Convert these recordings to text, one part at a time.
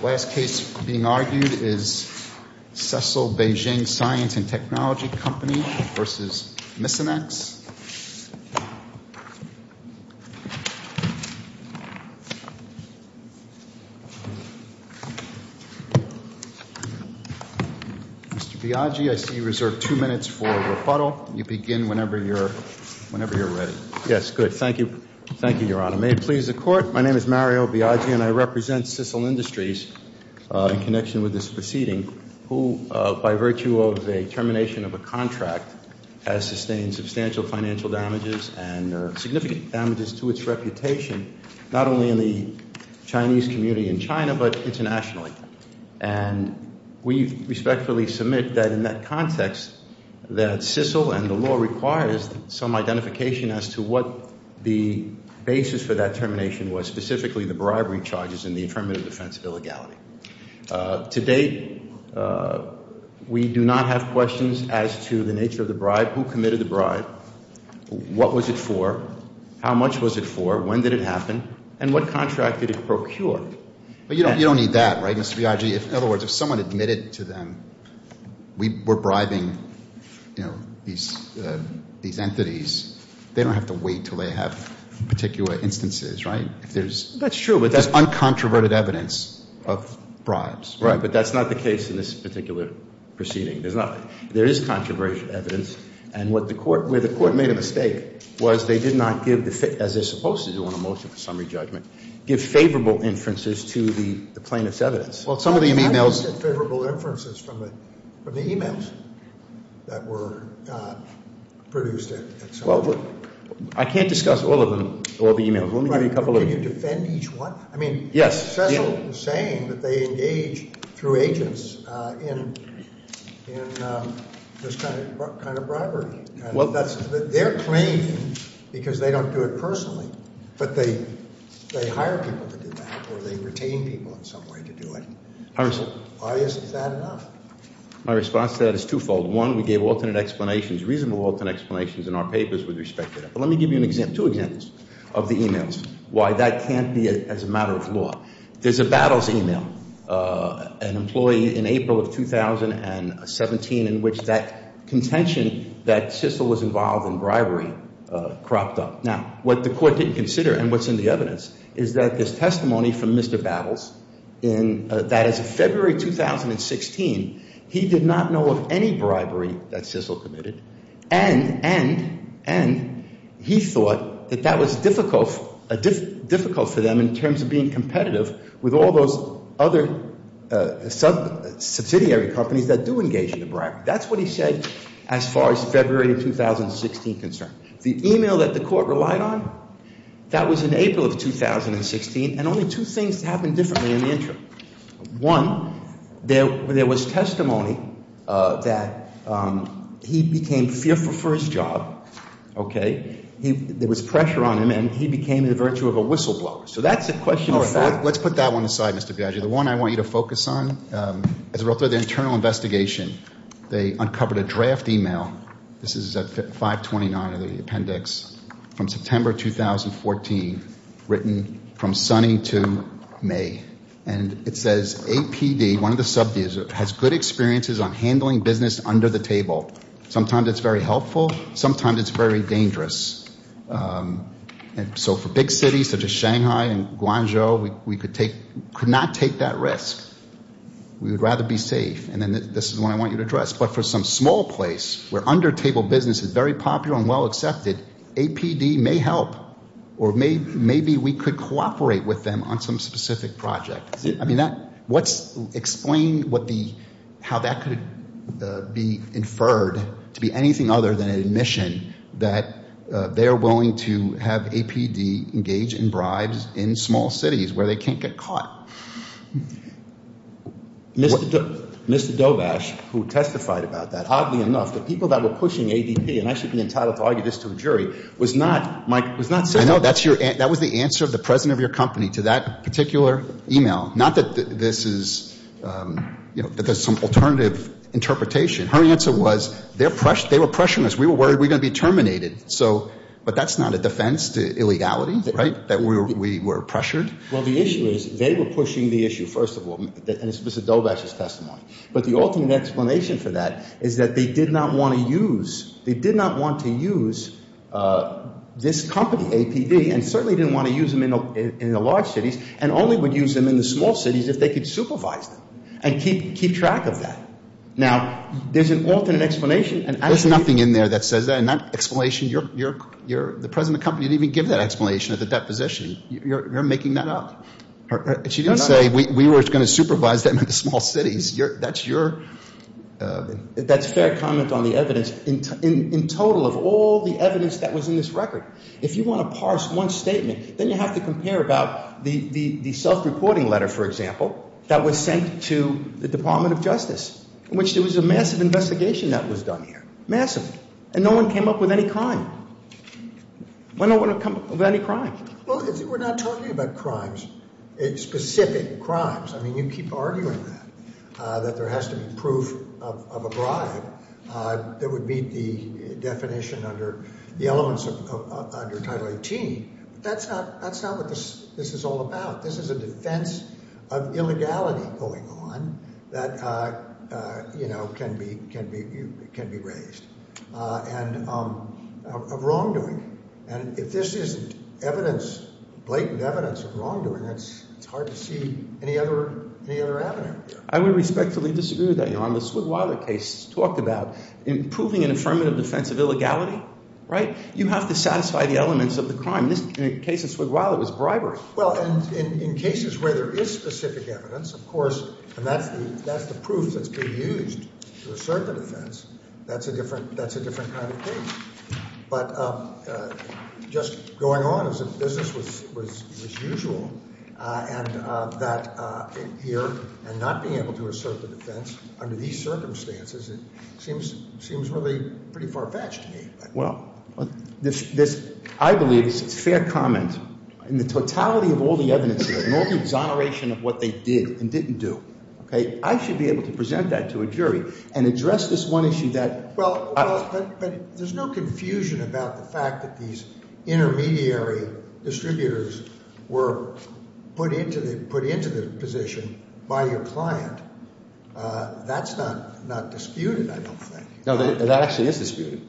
The last case being argued is Cicel Beijing Science & Technology Co., Ltd. v. Misonix, Inc. Mr. Biagi, I see you reserve two minutes for rebuttal. You begin whenever you're ready. Yes, good. Thank you. Thank you, Your Honor. May it please the Court, my name is Mario Biagi and I represent Cicel Industries in connection with this proceeding, who, by virtue of a termination of a contract, has sustained substantial financial damages and significant damages to its reputation, not only in the Chinese community in China, but internationally. And we respectfully submit that in that context that Cicel and the law requires some identification as to what the basis for that termination was, specifically the bribery charges and the affirmative defense of illegality. To date, we do not have questions as to the nature of the bribe, who committed the bribe, what was it for, how much was it for, when did it happen, and what contract did it procure. But you don't need that, right, Mr. Biagi? In other words, if someone admitted to them we were bribing these entities, they don't have to wait until they have particular instances, right? That's true. There's uncontroverted evidence of bribes. Right, but that's not the case in this particular proceeding. There is controversial evidence. And where the Court made a mistake was they did not give, as they're supposed to do on a motion for summary judgment, give favorable inferences to the plaintiff's evidence. Well, some of the e-mails… I mean, how do you get favorable inferences from the e-mails that were produced at some point? Well, I can't discuss all of them, all the e-mails. Let me give you a couple of them. Right, but can you defend each one? I mean, Cicel is saying that they engage through agents in this kind of bribery. They're claiming because they don't do it personally, but they hire people to do that or they retain people in some way to do it. Why is that enough? My response to that is twofold. One, we gave alternate explanations, reasonable alternate explanations in our papers with respect to that. But let me give you two examples of the e-mails, why that can't be as a matter of law. There's a Battles e-mail, an employee in April of 2017, in which that contention that Cicel was involved in bribery cropped up. Now, what the court didn't consider and what's in the evidence is that this testimony from Mr. Battles that as of February 2016, he did not know of any bribery that Cicel committed, and he thought that that was difficult for them in terms of being competitive with all those other subsidiary companies that do engage in the bribery. That's what he said as far as February 2016 concerned. The e-mail that the court relied on, that was in April of 2016, and only two things happened differently in the interim. One, there was testimony that he became fearful for his job, okay? There was pressure on him, and he became the virtue of a whistleblower. So that's a question of fact. Let's put that one aside, Mr. Biagi. The one I want you to focus on, as a result of the internal investigation, they uncovered a draft e-mail. This is 529 of the appendix, from September 2014, written from sunny to May. And it says, APD, one of the sub-divisions, has good experiences on handling business under the table. Sometimes it's very helpful. Sometimes it's very dangerous. So for big cities such as Shanghai and Guangzhou, we could not take that risk. We would rather be safe. And this is the one I want you to address. But for some small place, where under-table business is very popular and well-accepted, APD may help. Or maybe we could cooperate with them on some specific project. I mean, explain how that could be inferred to be anything other than an admission that they're willing to have APD engage in bribes in small cities, where they can't get caught. Mr. Dobash, who testified about that, oddly enough, the people that were pushing ADP, and I should be entitled to argue this to a jury, was not, Mike, was not saying that. I know. That was the answer of the president of your company to that particular e-mail. Not that this is, you know, that there's some alternative interpretation. Her answer was, they were pressuring us. We were worried we were going to be terminated. So, but that's not a defense to illegality, right, that we were pressured? Well, the issue is, they were pushing the issue, first of all, and it's Mr. Dobash's testimony. But the alternate explanation for that is that they did not want to use this company, APD, and certainly didn't want to use them in the large cities, and only would use them in the small cities if they could supervise them and keep track of that. Now, there's an alternate explanation. There's nothing in there that says that. And that explanation, you're the president of the company. You didn't even give that explanation at the deposition. You're making that up. She didn't say, we were going to supervise them in the small cities. That's your. That's a fair comment on the evidence. In total, of all the evidence that was in this record, if you want to parse one statement, then you have to compare about the self-reporting letter, for example, that was sent to the Department of Justice, in which there was a massive investigation that was done here, massive. And no one came up with any crime. No one came up with any crime. Well, we're not talking about crimes, specific crimes. I mean, you keep arguing that, that there has to be proof of a bribe that would meet the definition under the elements under Title 18. That's not what this is all about. This is a defense of illegality going on that, you know, can be raised. And of wrongdoing. And if this isn't evidence, blatant evidence of wrongdoing, it's hard to see any other avenue. I would respectfully disagree with that, Your Honor. The Swigwiler case talked about improving an affirmative defense of illegality, right? You have to satisfy the elements of the crime. In the case of Swigwiler, it was bribery. Well, and in cases where there is specific evidence, of course, and that's the proof that's been used to assert the defense, that's a different kind of case. But just going on as if business was usual, and that here, and not being able to assert the defense under these circumstances, it seems really pretty far-fetched to me. Well, this, I believe, is fair comment. In the totality of all the evidence and all the exoneration of what they did and didn't do, I should be able to present that to a jury and address this one issue that- Well, but there's no confusion about the fact that these intermediary distributors were put into the position by your client. That's not disputed, I don't think. No, that actually is disputed.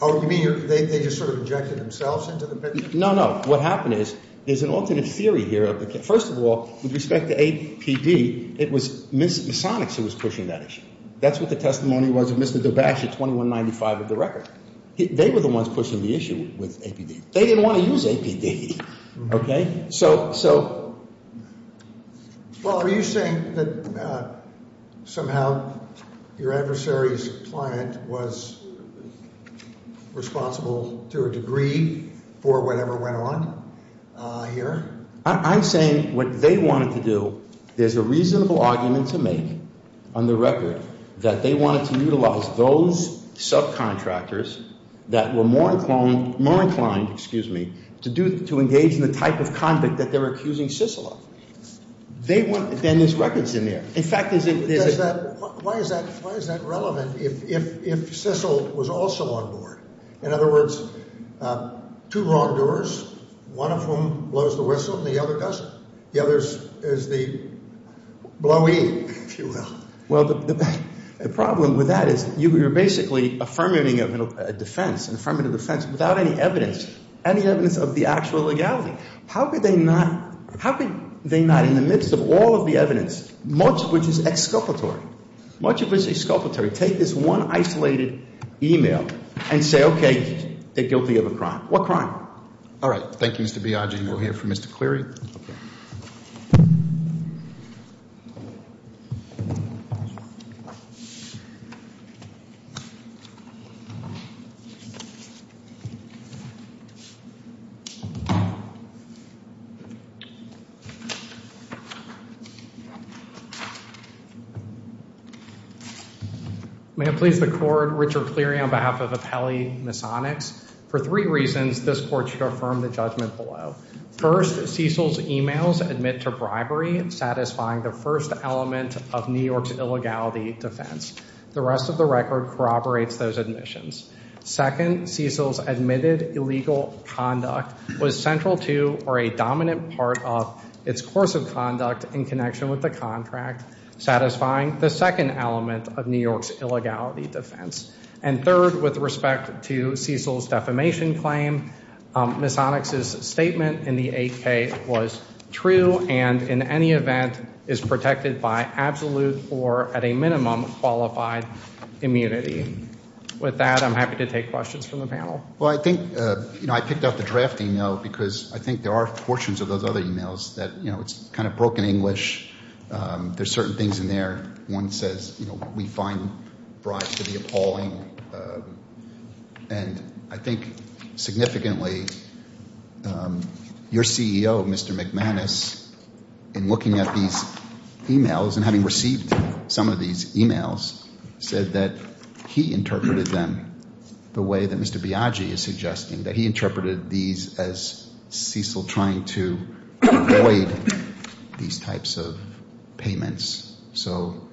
Oh, you mean they just sort of injected themselves into the picture? No, no. What happened is there's an alternate theory here. First of all, with respect to APD, it was Ms. Sonics who was pushing that issue. That's what the testimony was of Mr. DeBasch at 2195 of the record. They were the ones pushing the issue with APD. They didn't want to use APD, okay? So- Well, are you saying that somehow your adversary's client was responsible to a degree for whatever went on here? I'm saying what they wanted to do, there's a reasonable argument to make on the record that they wanted to utilize those subcontractors that were more inclined to engage in the type of conduct that they were accusing CICEL of. Then there's records in there. In fact, is it- Why is that relevant if CICEL was also on board? In other words, two wrongdoers, one of whom blows the whistle and the other doesn't. The other is the blowee, if you will. Well, the problem with that is you're basically affirming a defense and affirming a defense without any evidence, any evidence of the actual legality. How could they not in the midst of all of the evidence, much of which is exculpatory, much of which is exculpatory, take this one isolated email and say, okay, they're guilty of a crime. What crime? All right. Thank you, Mr. Biagi. We'll hear from Mr. Cleary. May it please the Court, Richard Cleary on behalf of Apelli Masonics. For three reasons, this Court should affirm the judgment below. First, CICEL's emails admit to bribery, satisfying the first element of New York's illegality defense. The rest of the record corroborates those admissions. Second, CICEL's admitted illegal conduct was central to or a dominant part of its course of conduct in connection with the contract, satisfying the second element of New York's illegality defense. And third, with respect to CICEL's defamation claim, Masonics' statement in the 8K was true and in any event is protected by absolute or at a minimum qualified immunity. With that, I'm happy to take questions from the panel. Well, I think, you know, I picked out the draft email because I think there are portions of those other emails that, you know, it's kind of broken English. There's certain things in there. One says, you know, we find bribes to be appalling. And I think significantly your CEO, Mr. McManus, in looking at these emails and having received some of these emails said that he interpreted them the way that Mr. Biagi is suggesting, that he interpreted these as CICEL trying to avoid these types of payments. So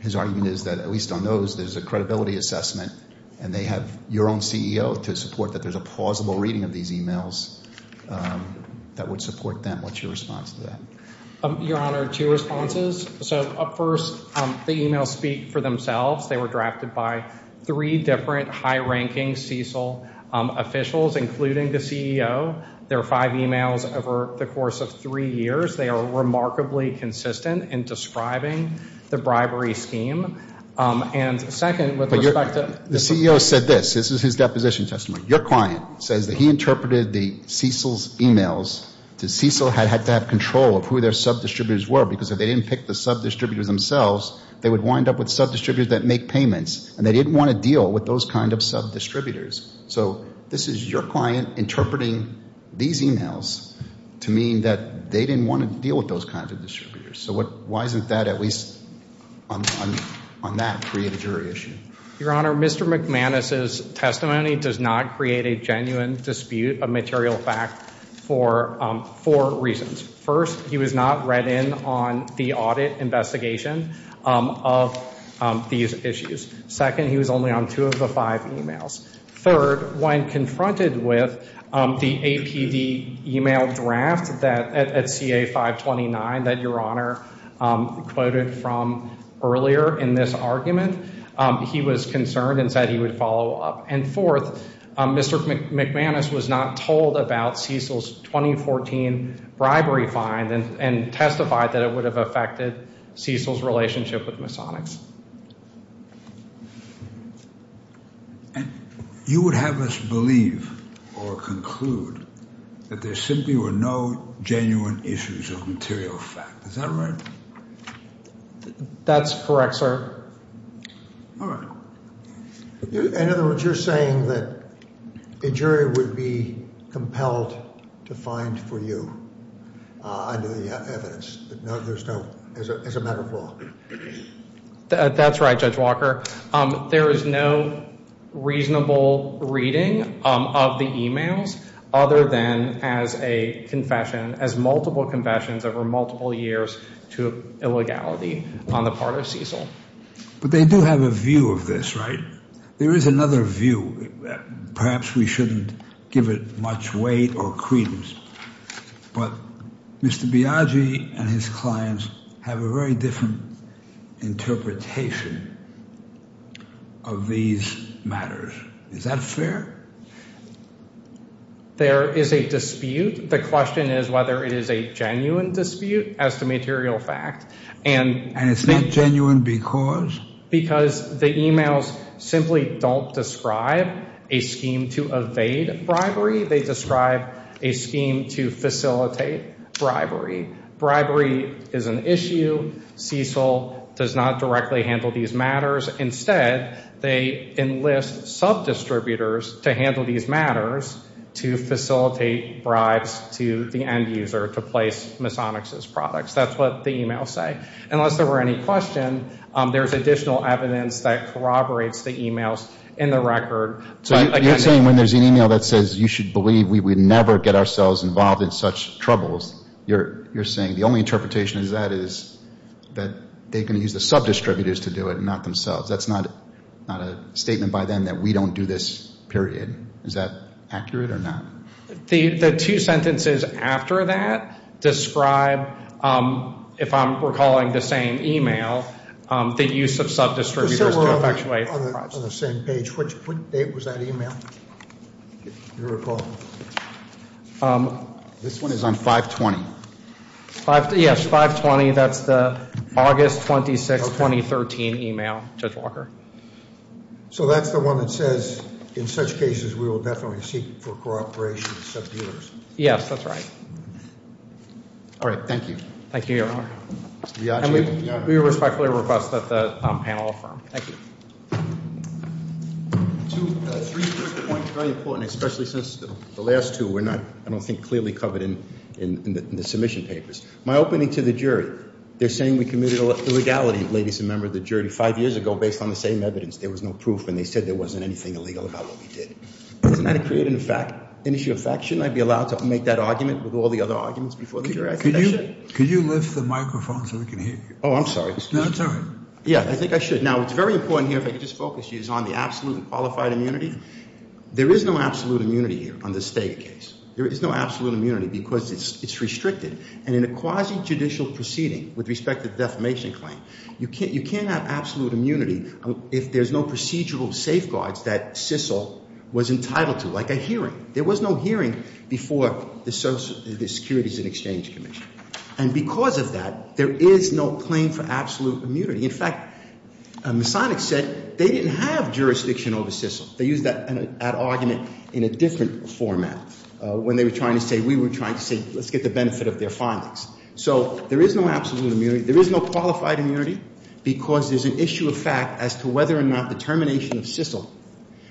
his argument is that at least on those, there's a credibility assessment and they have your own CEO to support that there's a plausible reading of these emails that would support them. What's your response to that? Your Honor, two responses. So first, the emails speak for themselves. They were drafted by three different high-ranking CICEL officials, including the CEO. There are five emails over the course of three years. They are remarkably consistent in describing the bribery scheme. And second, with respect to the CEO said this. This is his deposition testimony. Your client says that he interpreted the CICEL's emails. The CICEL had to have control of who their sub-distributors were because if they didn't pick the sub-distributors themselves, they would wind up with sub-distributors that make payments, and they didn't want to deal with those kind of sub-distributors. So this is your client interpreting these emails to mean that they didn't want to deal with those kind of distributors. So why isn't that at least on that created a jury issue? Your Honor, Mr. McManus' testimony does not create a genuine dispute of material fact for four reasons. First, he was not read in on the audit investigation of these issues. Second, he was only on two of the five emails. Third, when confronted with the APD email draft at CA 529 that Your Honor quoted from earlier in this argument, he was concerned and said he would follow up. And fourth, Mr. McManus was not told about CICEL's 2014 bribery fine and testified that it would have affected CICEL's relationship with Masonics. You would have us believe or conclude that there simply were no genuine issues of material fact. Is that right? That's correct, sir. All right. In other words, you're saying that a jury would be compelled to find for you under the evidence, as a matter of law. That's right, Judge Walker. There is no reasonable reading of the emails other than as a confession, as multiple confessions over multiple years to illegality on the part of CICEL. But they do have a view of this, right? There is another view. Perhaps we shouldn't give it much weight or credence. But Mr. Biagi and his clients have a very different interpretation of these matters. Is that fair? There is a dispute. The question is whether it is a genuine dispute as to material fact. And it's not genuine because? Because the emails simply don't describe a scheme to evade bribery. They describe a scheme to facilitate bribery. Bribery is an issue. CICEL does not directly handle these matters. Instead, they enlist sub-distributors to handle these matters to facilitate bribes to the end user to place Masonix's products. That's what the emails say. Unless there were any questions, there's additional evidence that corroborates the emails in the record. So you're saying when there's an email that says you should believe we would never get ourselves involved in such troubles, you're saying the only interpretation of that is that they can use the sub-distributors to do it and not themselves. That's not a statement by them that we don't do this, period. Is that accurate or not? The two sentences after that describe, if I'm recalling the same email, the use of sub-distributors to effectuate. On the same page, what date was that email? If you recall. This one is on 5-20. Yes, 5-20. That's the August 26, 2013 email, Judge Walker. So that's the one that says in such cases we will definitely seek for cooperation with sub-distributors. Yes, that's right. All right, thank you. Thank you, Your Honor. And we respectfully request that the panel affirm. Thank you. Two, three points, very important, especially since the last two were not, I don't think, clearly covered in the submission papers. My opening to the jury. They're saying we committed illegality, ladies and men of the jury, five years ago based on the same evidence. There was no proof, and they said there wasn't anything illegal about what we did. Isn't that a create an issue of faction? I'd be allowed to make that argument with all the other arguments before the jury. Could you lift the microphone so we can hear you? Oh, I'm sorry. No, it's all right. Yeah, I think I should. Now, what's very important here, if I could just focus you, is on the absolute and qualified immunity. There is no absolute immunity here on this Steger case. There is no absolute immunity because it's restricted, and in a quasi-judicial proceeding with respect to the defamation claim, you can't have absolute immunity if there's no procedural safeguards that CISL was entitled to, like a hearing. There was no hearing before the Securities and Exchange Commission, and because of that, there is no claim for absolute immunity. In fact, Masonic said they didn't have jurisdiction over CISL. They used that argument in a different format when they were trying to say we were trying to say let's get the benefit of their findings. So there is no absolute immunity. There is no qualified immunity because there's an issue of fact as to whether or not the termination of CISL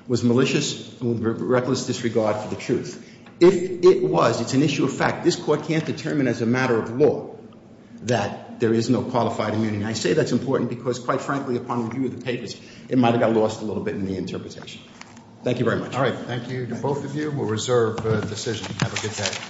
was malicious or reckless disregard for the truth. If it was, it's an issue of fact. This Court can't determine as a matter of law that there is no qualified immunity. I say that's important because, quite frankly, upon review of the papers, it might have got lost a little bit in the interpretation. Thank you very much. All right. Thank you to both of you. We'll reserve the decision. Have a good day.